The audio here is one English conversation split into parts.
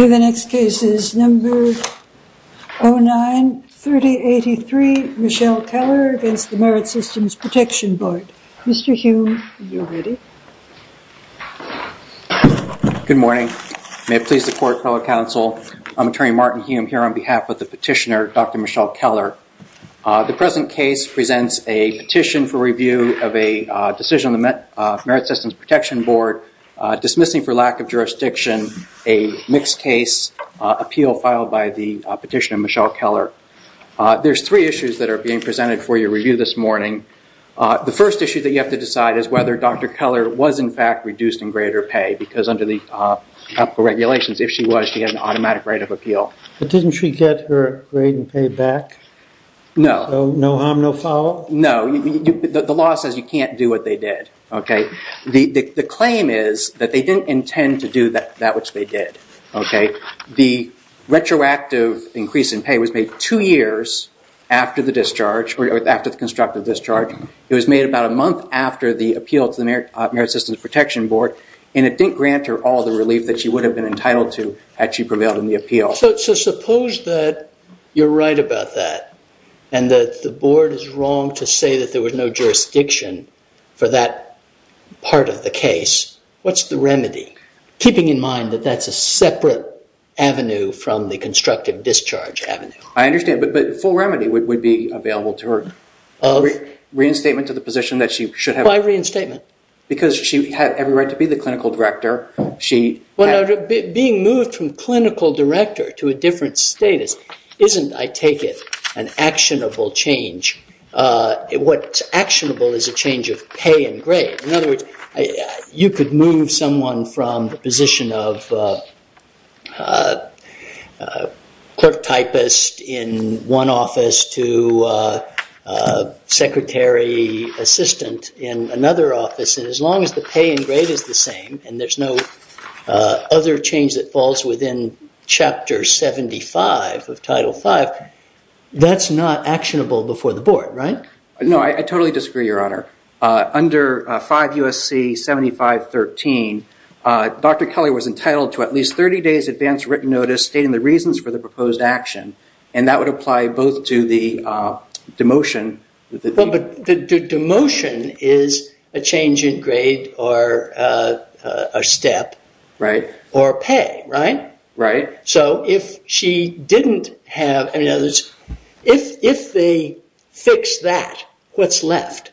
The next case is number 093083, Michelle Keller against the Merit Systems Protection Board. Mr. Hume, are you ready? Good morning. May it please the court, public counsel, I'm attorney Martin Hume here on behalf of the petitioner Dr. Michelle Keller. The present case presents a petition for review of a decision on the Merit Systems Protection Board dismissing for lack of jurisdiction a mixed case appeal filed by the petitioner Michelle Keller. There's three issues that are being presented for your review this morning. The first issue that you have to decide is whether Dr. Keller was in fact reduced in grade or pay because under the regulations if she was she had an automatic right of appeal. Didn't she get her grade and pay back? No. No harm, no foul? No. The law says you can't do what they did. The claim is that they didn't intend to do that which they did. The retroactive increase in pay was made two years after the constructive discharge. It was made about a month after the appeal to the Merit Systems Protection Board and it didn't grant her all the relief that she would have been entitled to had she prevailed in the appeal. So suppose that you're right about that and that the board is wrong to say that there was no jurisdiction for that part of the case. What's the remedy? Keeping in mind that that's a separate avenue from the constructive discharge avenue. I understand but full remedy would be available to her. Reinstatement to the position that she should have. Why reinstatement? Because she had every right to be the clinical director. Being moved from clinical director to a different status isn't, I take it, an actionable change. What's actionable is a change of pay and grade. In other words, you could move someone from the position of clerk typist in one office to secretary assistant in another office. And as long as the pay and grade is the same and there's no other change that falls within Chapter 75 of Title V, that's not actionable before the board, right? No, I totally disagree, Your Honor. Under 5 U.S.C. 7513, Dr. Kelly was entitled to at least 30 days advance written notice stating the reasons for the proposed action. And that would apply both to the demotion. Well, but the demotion is a change in grade or a step. Right. Or pay, right? Right. So if she didn't have any others, if they fix that, what's left?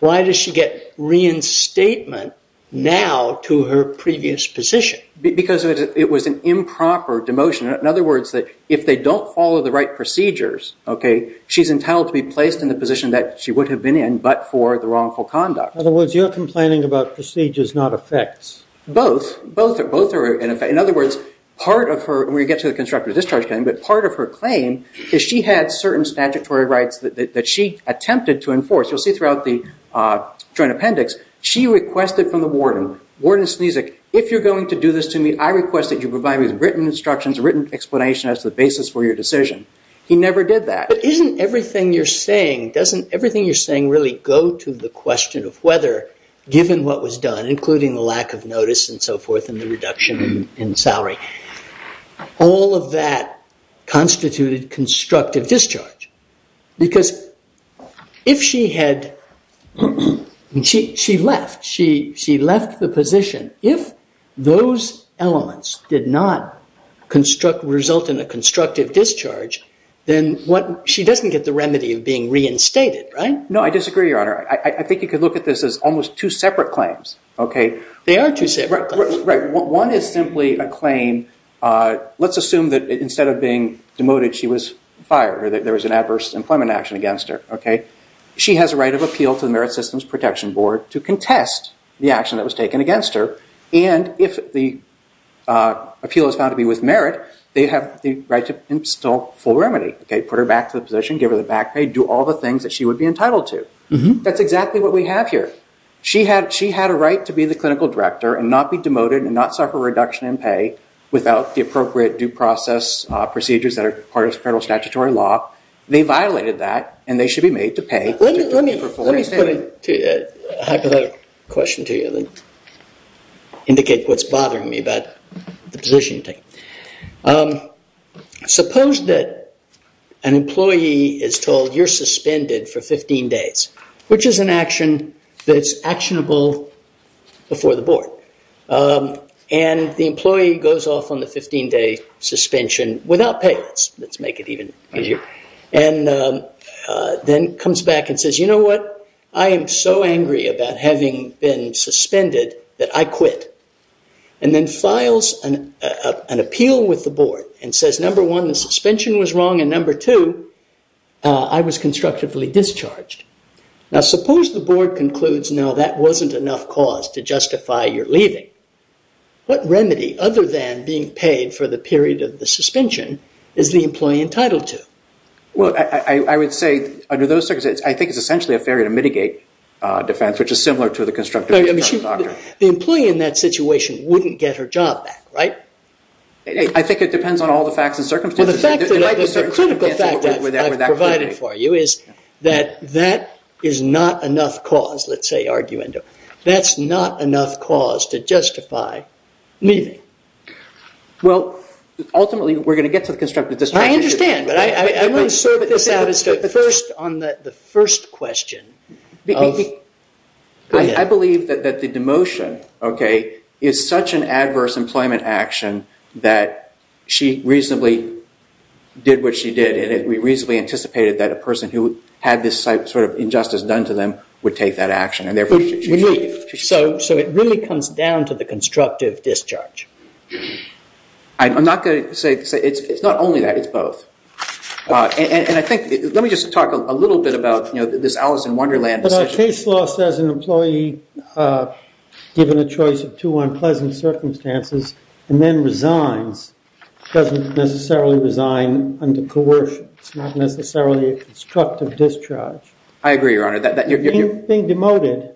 Why does she get reinstatement now to her previous position? Because it was an improper demotion. In other words, if they don't follow the right procedures, okay, she's entitled to be placed in the position that she would have been in but for the wrongful conduct. In other words, you're complaining about procedures, not effects. Both. Both are in effect. In other words, part of her, when we get to the constructive discharge claim, but part of her claim is she had certain statutory rights that she attempted to enforce. You'll see throughout the Joint Appendix, she requested from the warden, Warden Snezek, if you're going to do this to me, I request that you provide me with written instructions, written explanation as the basis for your decision. He never did that. But isn't everything you're saying, doesn't everything you're saying really go to the question of whether, given what was done, including the lack of notice and so forth and the reduction in salary, all of that constituted constructive discharge? Because if she had, she left. She left the position. If those elements did not result in a constructive discharge, then she doesn't get the remedy of being reinstated, right? No, I disagree, Your Honor. I think you could look at this as almost two separate claims. They are two separate claims. One is simply a claim. Let's assume that instead of being demoted, she was fired, that there was an adverse employment action against her. She has a right of appeal to the Merit Systems Protection Board to contest the action that was taken against her. And if the appeal is found to be with merit, they have the right to install full remedy, put her back to the position, give her the back pay, do all the things that she would be entitled to. That's exactly what we have here. She had a right to be the clinical director and not be demoted and not suffer reduction in pay without the appropriate due process procedures that are part of federal statutory law. They violated that, and they should be made to pay. Let me put a hypothetical question to you to indicate what's bothering me about the position you take. Suppose that an employee is told, you're suspended for 15 days, which is an action that's actionable before the board. And the employee goes off on the 15-day suspension without pay. Let's make it even easier. And then comes back and says, you know what? I am so angry about having been suspended that I quit. And then files an appeal with the board and says, number one, the suspension was wrong, and number two, I was constructively discharged. Now, suppose the board concludes, no, that wasn't enough cause to justify your leaving. What remedy, other than being paid for the period of the suspension, is the employee entitled to? Well, I would say, under those circumstances, I think it's essentially a failure to mitigate defense, which is similar to the constructive discharge of a doctor. The employee in that situation wouldn't get her job back, right? I think it depends on all the facts and circumstances. Well, the fact that the critical fact that I've provided for you is that that is not enough cause, let's say, arguendo. That's not enough cause to justify leaving. Well, ultimately, we're going to get to the constructive discharge. I understand, but I want to sort this out as the first question. I believe that the demotion, okay, is such an adverse employment action that she reasonably did what she did, and we reasonably anticipated that a person who had this sort of injustice done to them would take that action. So it really comes down to the constructive discharge? I'm not going to say, it's not only that, it's both. And I think, let me just talk a little bit about this Alice in Wonderland decision. But a case lost as an employee given a choice of two unpleasant circumstances and then resigns doesn't necessarily resign under coercion. It's not necessarily a constructive discharge. I agree, Your Honor. Being demoted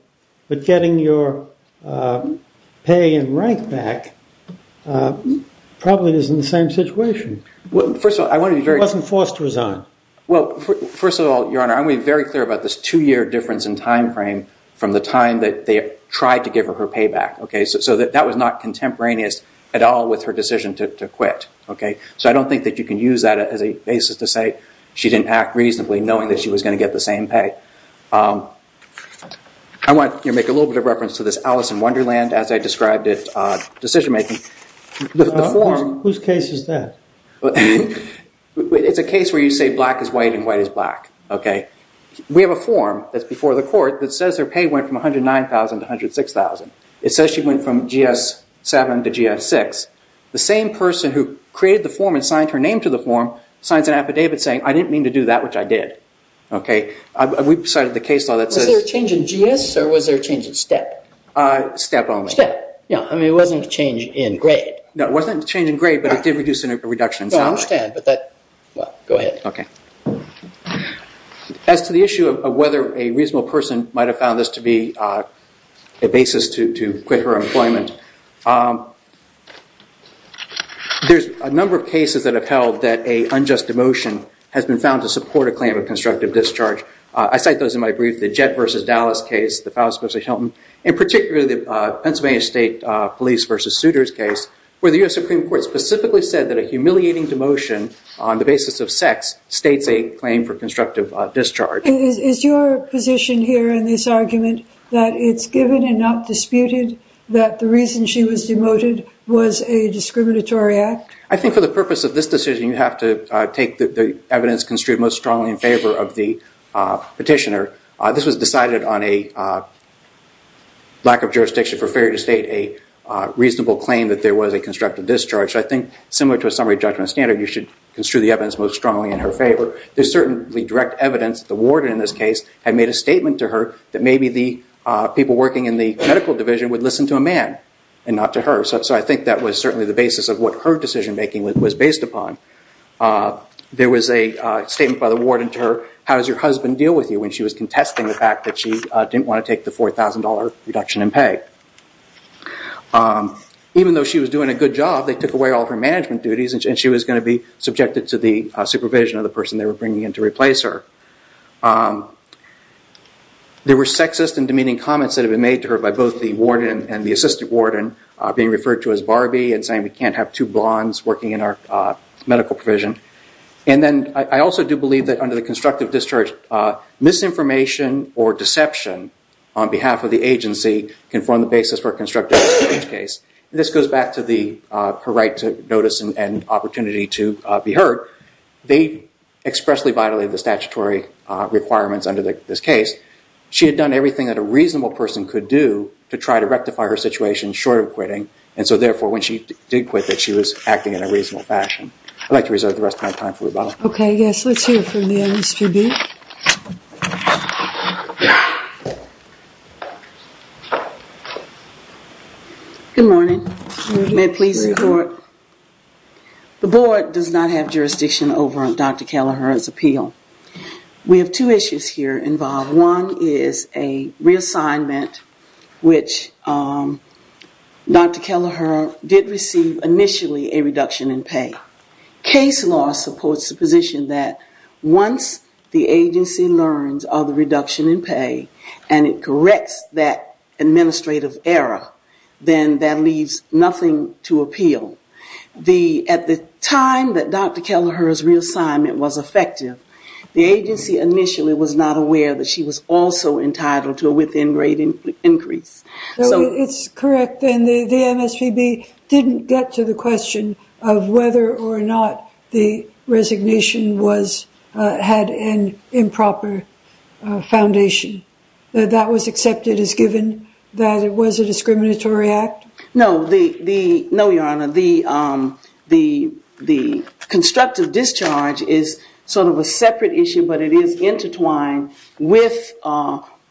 but getting your pay and rank back probably isn't the same situation. She wasn't forced to resign. Well, first of all, Your Honor, I'm going to be very clear about this two-year difference in time frame from the time that they tried to give her her payback. So that was not contemporaneous at all with her decision to quit. So I don't think that you can use that as a basis to say she didn't act reasonably knowing that she was going to get the same pay. I want to make a little bit of reference to this Alice in Wonderland, as I described it, decision-making. Whose case is that? It's a case where you say black is white and white is black. We have a form that's before the court that says her pay went from $109,000 to $106,000. It says she went from GS-7 to GS-6. The same person who created the form and signed her name to the form signs an affidavit saying, I didn't mean to do that, which I did. We decided the case law that says... Was there a change in GS or was there a change in STEP? STEP only. STEP. It wasn't a change in grade. No, it wasn't a change in grade, but it did reduce a reduction in sound. I understand, but that... Go ahead. Okay. As to the issue of whether a reasonable person might have found this to be a basis to quit her employment, there's a number of cases that have held that an unjust demotion has been found to support a claim of constructive discharge. I cite those in my brief. The Jett v. Dallas case, the Faust v. Hilton, and particularly the Pennsylvania State Police v. Suitors case, where the U.S. Supreme Court specifically said that a humiliating demotion on the basis of sex states a claim for constructive discharge. Is your position here in this argument that it's given and not disputed that the reason she was demoted was a discriminatory act? I think for the purpose of this decision, you have to take the evidence construed most strongly in favor of the petitioner. This was decided on a lack of jurisdiction for failure to state a reasonable claim that there was a constructive discharge. So I think similar to a summary judgment standard, you should construe the evidence most strongly in her favor. There's certainly direct evidence that the warden in this case had made a statement to her that maybe the people working in the medical division would listen to a man and not to her. So I think that was certainly the basis of what her decision making was based upon. There was a statement by the warden to her, how does your husband deal with you, when she was contesting the fact that she didn't want to take the $4,000 reduction in pay. Even though she was doing a good job, they took away all her management duties and she was going to be subjected to the supervision of the person they were bringing in to replace her. There were sexist and demeaning comments that had been made to her by both the warden and the assistant warden, being referred to as Barbie and saying we can't have two blondes working in our medical provision. And then I also do believe that under the constructive discharge, misinformation or deception on behalf of the agency can form the basis for a constructive discharge case. This goes back to her right to notice and opportunity to be heard. They expressly violated the statutory requirements under this case. She had done everything that a reasonable person could do to try to rectify her situation short of quitting and so therefore when she did quit, she was acting in a reasonable fashion. I'd like to reserve the rest of my time for rebuttal. Okay, let's hear from the MSPB. Good morning. May it please the court. The board does not have jurisdiction over Dr. Kelleher's appeal. We have two issues here involved. One is a reassignment which Dr. Kelleher did receive initially a reduction in pay. Case law supports the position that once the agency learns of the reduction in pay and it corrects that administrative error, then that leaves nothing to appeal. At the time that Dr. Kelleher's reassignment was effective, the agency initially was not aware that she was also entitled to a within grade increase. It's correct and the MSPB didn't get to the question of whether or not the resignation had an improper foundation. That was accepted as given that it was a discriminatory act? No, Your Honor. The constructive discharge is sort of a separate issue but it is intertwined with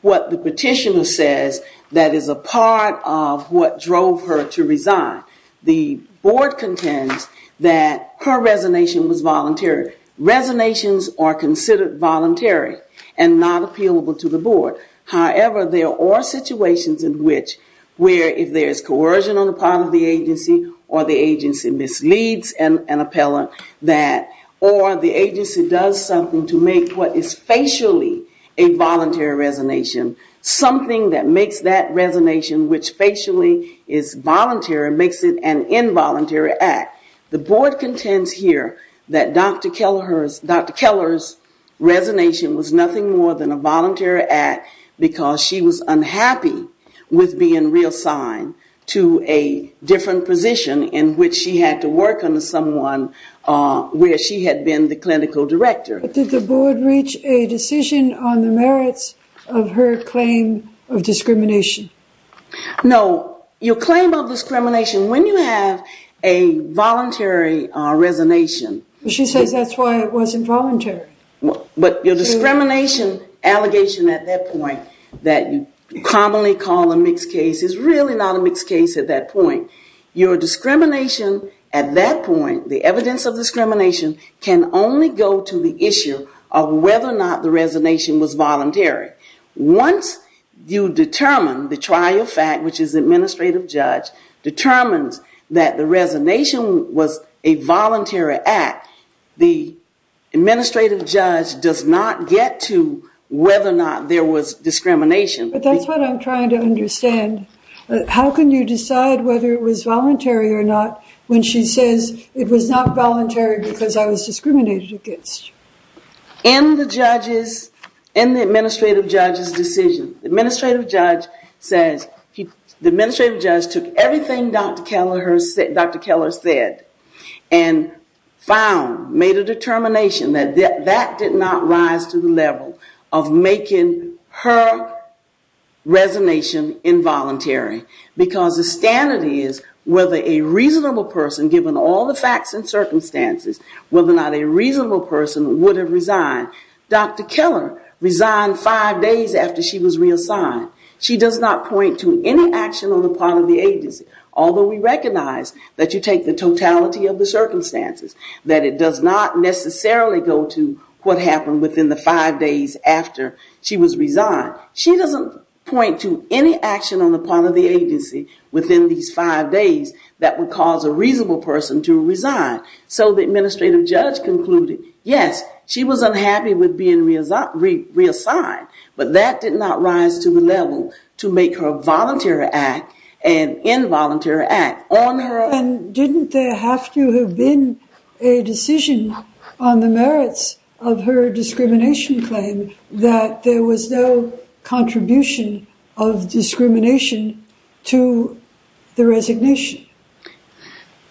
what the petitioner says that is a part of what drove her to resign. The board contends that her resignation was voluntary. Resonations are considered voluntary and not appealable to the board. However, there are situations in which where if there is coercion on the part of the agency or the agency misleads an appellant or the agency does something to make what is facially a voluntary resignation, something that makes that resignation which facially is voluntary makes it an involuntary act. The board contends here that Dr. Kelleher's resignation was nothing more than a voluntary act because she was unhappy with being reassigned to a different position in which she had to work under someone where she had been the clinical director. Did the board reach a decision on the merits of her claim of discrimination? No. Your claim of discrimination, when you have a voluntary resignation... She says that's why it wasn't voluntary. But your discrimination allegation at that point that you commonly call a mixed case is really not a mixed case at that point. Your discrimination at that point, the evidence of discrimination, can only go to the issue of whether or not the resignation was voluntary. Once you determine the trial fact, which is administrative judge, determines that the resignation was a voluntary act, the administrative judge does not get to whether or not there was discrimination. But that's what I'm trying to understand. How can you decide whether it was voluntary or not when she says it was not voluntary because I was discriminated against? In the administrative judge's decision, the administrative judge took everything Dr. Keller said and made a determination that that did not rise to the level of making her resignation involuntary because the standard is whether a reasonable person, given all the facts and circumstances, whether or not a reasonable person would have resigned. Dr. Keller resigned five days after she was reassigned. She does not point to any action on the part of the agency, although we recognize that you take the totality of the circumstances, that it does not necessarily go to what happened within the five days after she was resigned. She doesn't point to any action on the part of the agency within these five days that would cause a reasonable person to resign so the administrative judge concluded, yes, she was unhappy with being reassigned, but that did not rise to the level to make her voluntary act an involuntary act on her own. And didn't there have to have been a decision on the merits of her discrimination claim that there was no contribution of discrimination to the resignation?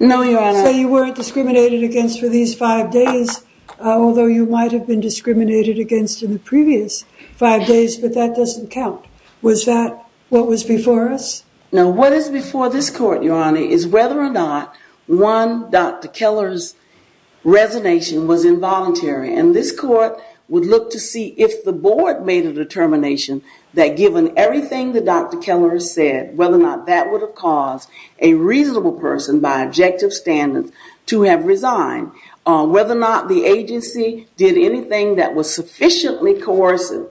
No, Your Honor. So you weren't discriminated against for these five days, although you might have been discriminated against in the previous five days, but that doesn't count. Was that what was before us? No, what is before this court, Your Honor, is whether or not one Dr. Keller's resignation was involuntary. And this court would look to see if the board made a determination that given everything that Dr. Keller said, whether or not that would have caused a reasonable person by objective standards to have resigned, whether or not the agency did anything that was sufficiently coercive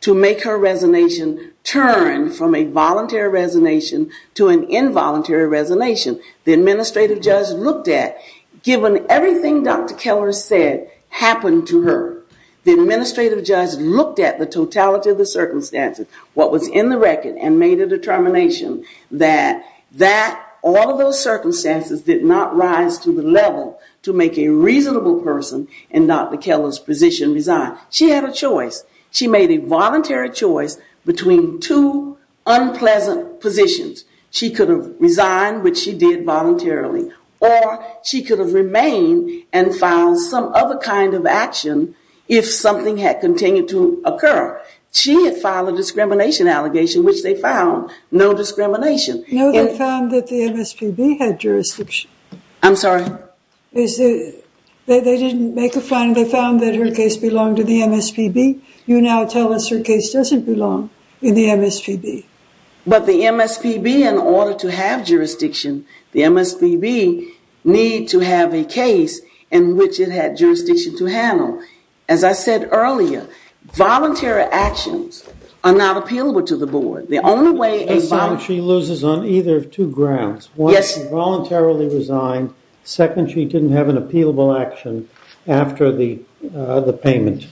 to make her resignation turn from a voluntary resignation to an involuntary resignation. The administrative judge looked at, given everything Dr. Keller said happened to her, the administrative judge looked at the totality of the circumstances, what was in the record, and made a determination that all of those circumstances did not rise to the level to make a reasonable person in Dr. Keller's position resign. She had a choice. She made a voluntary choice between two unpleasant positions. She could have resigned, which she did voluntarily, or she could have remained and filed some other kind of action if something had continued to occur. She had filed a discrimination allegation, which they found no discrimination. No, they found that the MSPB had jurisdiction. I'm sorry? They didn't make a finding. They found that her case belonged to the MSPB. You now tell us her case doesn't belong in the MSPB. But the MSPB, in order to have jurisdiction, the MSPB need to have a case in which it had jurisdiction to handle. As I said earlier, voluntary actions are not appealable to the board. The only way a voluntary action She loses on either of two grounds. One, she voluntarily resigned. Second, she didn't have an appealable action after the payment.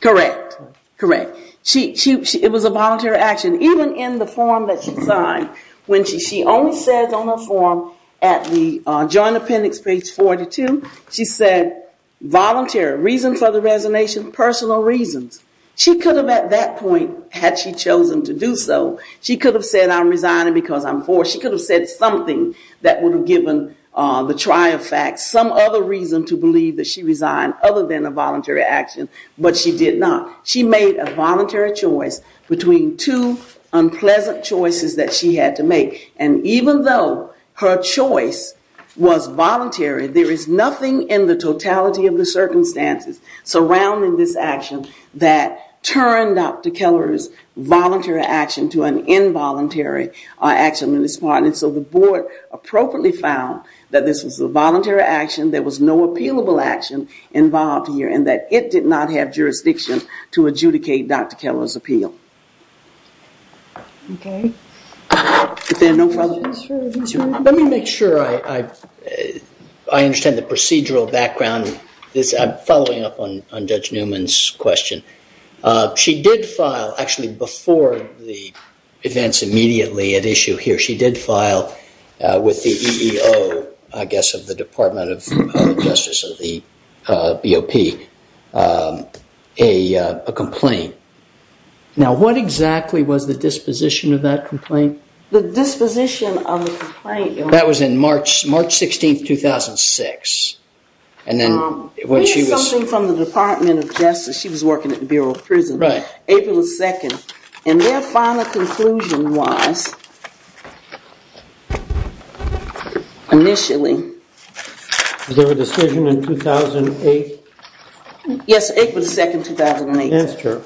Correct. Correct. It was a voluntary action. Even in the form that she signed, when she only says on the form at the Joint Appendix, page 42, she said, voluntary. Reason for the resignation? Personal reasons. She could have, at that point, had she chosen to do so, she could have said, I'm resigning because I'm forced. She could have said something that would have given the trial facts some other reason to believe that she resigned other than a voluntary action. But she did not. She made a voluntary choice between two unpleasant choices that she had to make. And even though her choice was voluntary, there is nothing in the totality of the circumstances surrounding this action that turned Dr. Keller's voluntary action to an involuntary action on his part. And so the board appropriately found that this was a voluntary action, there was no appealable action involved here, and that it did not have jurisdiction to adjudicate Dr. Keller's appeal. Okay. Let me make sure I understand the procedural background. I'm following up on Judge Newman's question. She did file, actually before the events immediately at issue here, she did file with the EEO, I guess, of the Department of Justice of the BOP, a complaint. Now, what exactly was the disposition of that complaint? The disposition of the complaint... That was in March 16, 2006. We had something from the Department of Justice. She was working at the Bureau of Prison. April 2nd. And their final conclusion was, initially... Was there a decision in 2008? Yes, April 2nd, 2008. Yes, sure.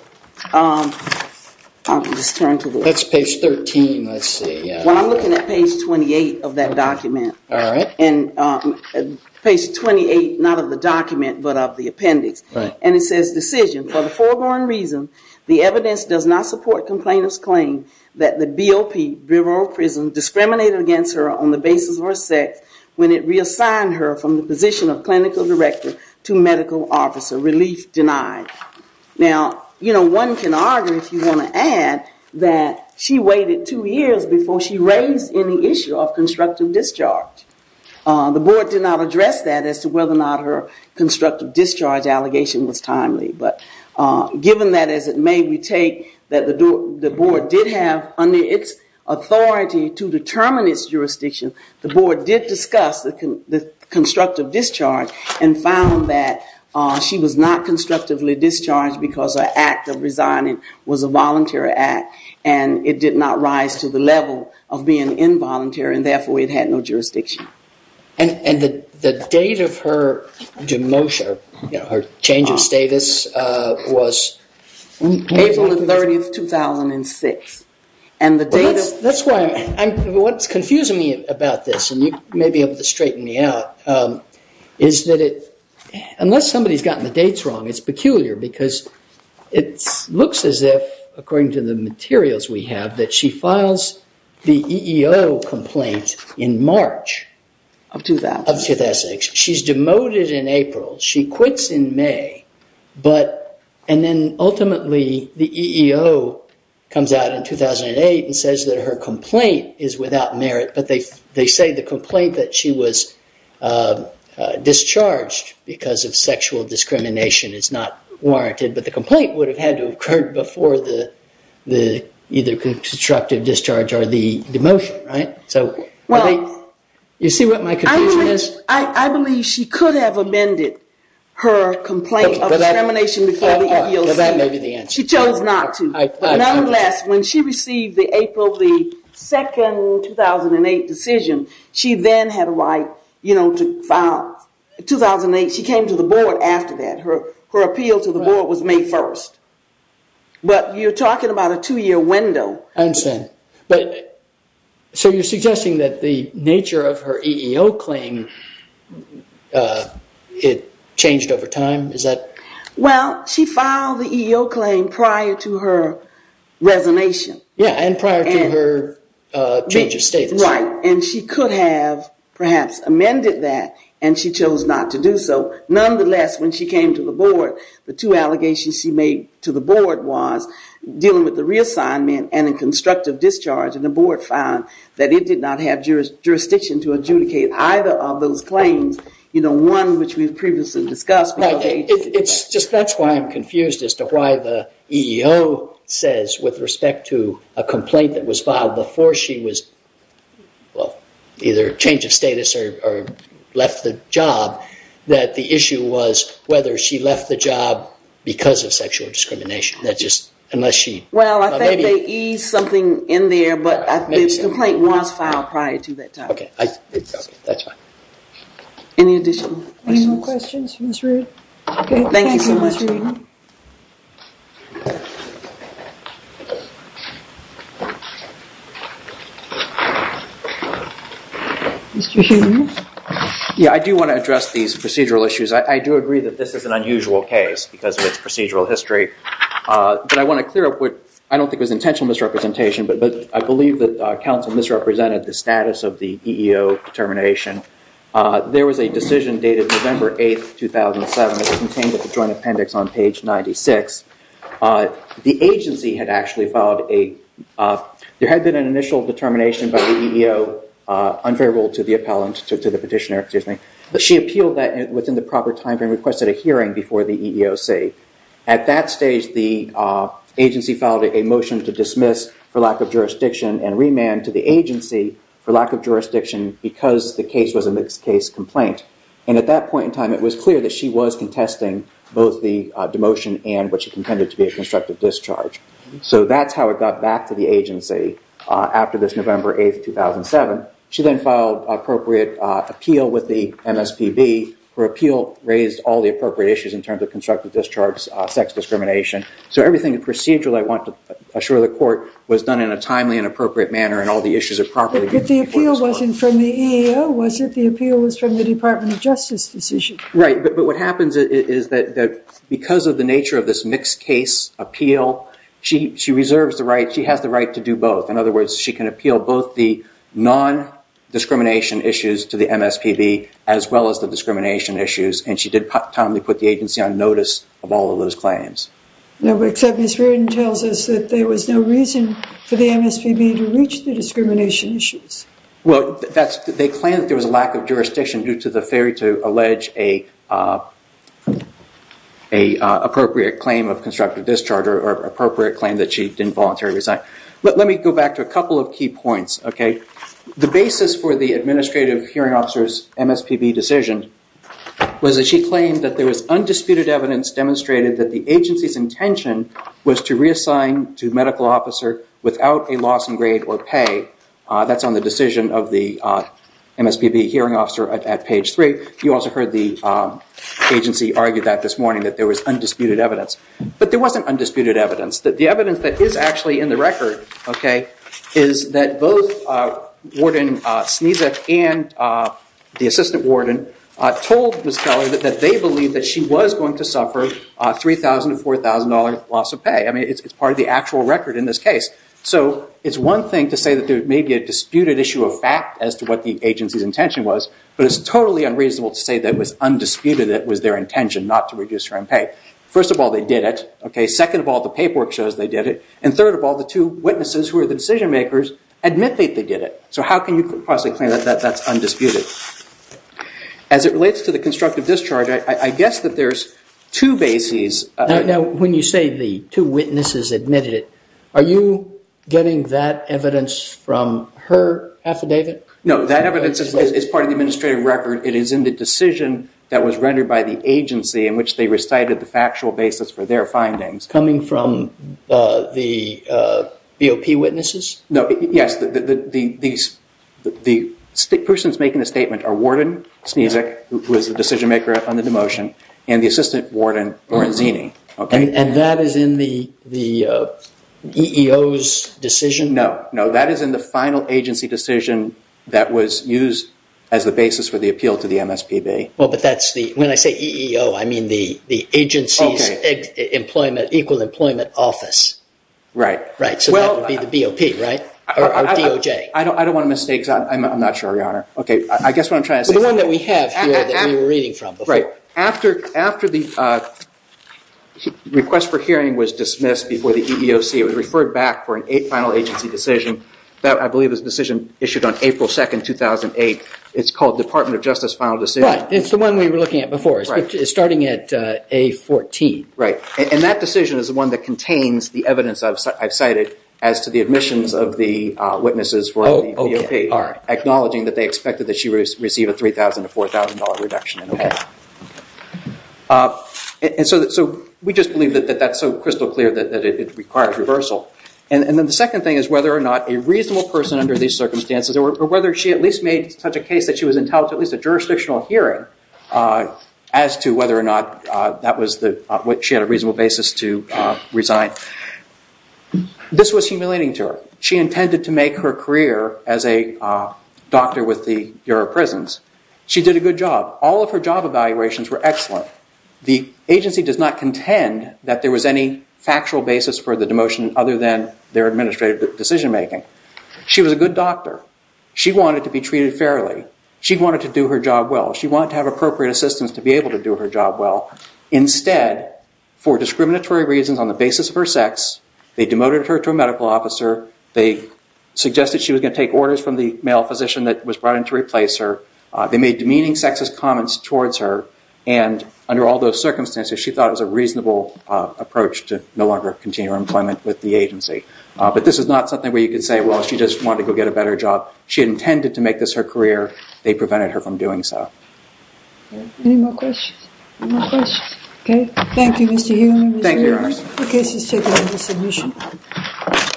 Let's turn to the... That's page 13, let's see. Well, I'm looking at page 28 of that document. All right. Page 28, not of the document, but of the appendix. And it says, Decision, for the foregone reason, the evidence does not support complainant's claim that the BOP, Bureau of Prison, discriminated against her on the basis of her sex when it reassigned her from the position of clinical director to medical officer. Relief denied. Now, you know, one can argue, if you want to add, that she waited two years before she raised any issue of constructive discharge. The board did not address that as to whether or not her constructive discharge allegation was timely. But given that, as it may we take, that the board did have under its authority to determine its jurisdiction, the board did discuss the constructive discharge and found that she was not constructively discharged because her act of resigning was a voluntary act and it did not rise to the level of being involuntary and, therefore, it had no jurisdiction. And the date of her demotion, her change of status, was... April 30, 2006. And the date of... That's why I'm... What's confusing me about this, and you may be able to straighten me out, is that it... Unless somebody's gotten the dates wrong, it's peculiar because it looks as if, according to the materials we have, that she files the EEO complaint in March... Of 2006. Of 2006. She's demoted in April. She quits in May. But... And then, ultimately, the EEO comes out in 2008 and says that her complaint is without merit, but they say the complaint that she was discharged because of sexual discrimination is not warranted, but the complaint would have had to have occurred before the either constructive discharge or the demotion, right? So... Well... You see what my confusion is? I believe she could have amended her complaint of discrimination before the EEO. That may be the answer. She chose not to. Nonetheless, when she received the April 2nd, 2008 decision, she then had a right, you know, to file... 2008, she came to the board after that. Her appeal to the board was May 1st. But you're talking about a two-year window. I understand. But... So you're suggesting that the nature of her EEO claim, it changed over time? Is that...? Well, she filed the EEO claim prior to her resignation. Yeah, and prior to her change of status. Right, and she could have perhaps amended that, and she chose not to do so. Nonetheless, when she came to the board, the two allegations she made to the board was dealing with the reassignment and the constructive discharge, and the board found that it did not have jurisdiction to adjudicate either of those claims. You know, one which we've previously discussed... That's why I'm confused as to why the EEO says, with respect to a complaint that was filed before she was... well, either change of status or left the job, that the issue was whether she left the job because of sexual discrimination. That's just... unless she... Well, I think they eased something in there, but the complaint was filed prior to that time. OK, that's fine. Any additional questions? Thank you so much. Mr. Schumer? Yeah, I do want to address these procedural issues. I do agree that this is an unusual case because of its procedural history, but I want to clear up what... I don't think it was intentional misrepresentation, but I believe that counsel misrepresented the status of the EEO determination. There was a decision dated November 8, 2007 that contained a joint appendix on page 96. The agency had actually filed a... There had been an initial determination by the EEO, unfavorable to the appellant... to the petitioner, excuse me. She appealed that within the proper timeframe and requested a hearing before the EEOC. At that stage, the agency filed a motion to dismiss for lack of jurisdiction and remand to the agency for lack of jurisdiction because the case was a mixed-case complaint. And at that point in time, it was clear that she was contesting both the demotion and what she contended to be a constructive discharge. So that's how it got back to the agency after this November 8, 2007. She then filed an appropriate appeal with the MSPB. Her appeal raised all the appropriate issues in terms of constructive discharges, sex discrimination. So everything procedurally, I want to assure the court, was done in a timely and appropriate manner and all the issues are properly... But the appeal wasn't from the EEO, was it? The appeal was from the Department of Justice decision. Right, but what happens is that because of the nature of this mixed-case appeal, she reserves the right, she has the right to do both. In other words, she can appeal both the non-discrimination issues to the MSPB as well as the discrimination issues and she did timely put the agency on notice of all of those claims. Except Ms. Reardon tells us that there was no reason for the MSPB to reach the discrimination issues. Well, they claim that there was a lack of jurisdiction due to the failure to allege an appropriate claim of constructive discharge or appropriate claim that she didn't voluntarily resign. Let me go back to a couple of key points, OK? The basis for the administrative hearing officer's MSPB decision was that she claimed that there was undisputed evidence demonstrated that the agency's intention was to reassign to medical officer without a loss in grade or pay. That's on the decision of the MSPB hearing officer at page 3. You also heard the agency argue that this morning, that there was undisputed evidence. But there wasn't undisputed evidence. The evidence that is actually in the record, OK, is that both Warden Snezek and the assistant warden told Ms. Kelley that they believed that she was going to suffer a $3,000 to $4,000 loss of pay. I mean, it's part of the actual record in this case. So it's one thing to say that there may be a disputed issue of fact as to what the agency's intention was, but it's totally unreasonable to say that it was undisputed that it was their intention not to reduce her own pay. First of all, they did it, OK? Second of all, the paperwork shows they did it. And third of all, the two witnesses who are the decision makers admit that they did it. So how can you possibly claim that that's undisputed? As it relates to the constructive discharge, I guess that there's two bases. Now, when you say the two witnesses admitted it, are you getting that evidence from her affidavit? No, that evidence is part of the administrative record. It is in the decision that was rendered by the agency in which they recited the factual basis for their findings. Coming from the BOP witnesses? No, yes, the persons making the statement are Warden Snezek, who is the decision maker on the demotion, and the Assistant Warden Oranzini. And that is in the EEO's decision? No, no, that is in the final agency decision that was used as the basis for the appeal to the MSPB. Well, but that's the, when I say EEO, I mean the agency's Equal Employment Office. Right. Right, so that would be the BOP, right? Or DOJ? I don't want to mistake, because I'm not sure, Your Honor. Okay, I guess what I'm trying to say is... The one that we have here that we were reading from before. Right. After the request for hearing was dismissed before the EEOC, it was referred back for a final agency decision, that I believe was a decision issued on April 2, 2008. It's called Department of Justice Final Decision. Right, it's the one we were looking at before, starting at A14. Right. And that decision is the one that contains the evidence I've cited as to the admissions of the witnesses from the BOP, acknowledging that they expected that she would receive a $3,000 to $4,000 reduction in her pay. And so we just believe that that's so crystal clear that it requires reversal. And then the second thing is whether or not a reasonable person under these circumstances, or whether she at least made such a case that she was entitled to at least a jurisdictional hearing as to whether or not that was what she had a reasonable basis to resign. This was humiliating to her. She intended to make her career as a doctor with the Bureau of Prisons. She did a good job. All of her job evaluations were excellent. The agency does not contend that there was any factual basis for the demotion other than their administrative decision making. She was a good doctor. She wanted to be treated fairly. She wanted to do her job well. She wanted to have appropriate assistance to be able to do her job well. Instead, for discriminatory reasons on the basis of her sex, they demoted her to a medical officer. They suggested she was going to take orders from the male physician that was brought in to replace her. They made demeaning sexist comments towards her. And under all those circumstances, she thought it was a reasonable approach to no longer continue her employment with the agency. But this is not something where you could say, well, she just wanted to go get a better job. She intended to make this her career. They prevented her from doing so. No questions? Okay. Thank you, Mr. Heumann. Thank you, Your Honor. Any other questions? Okay. This is taken as a resolution.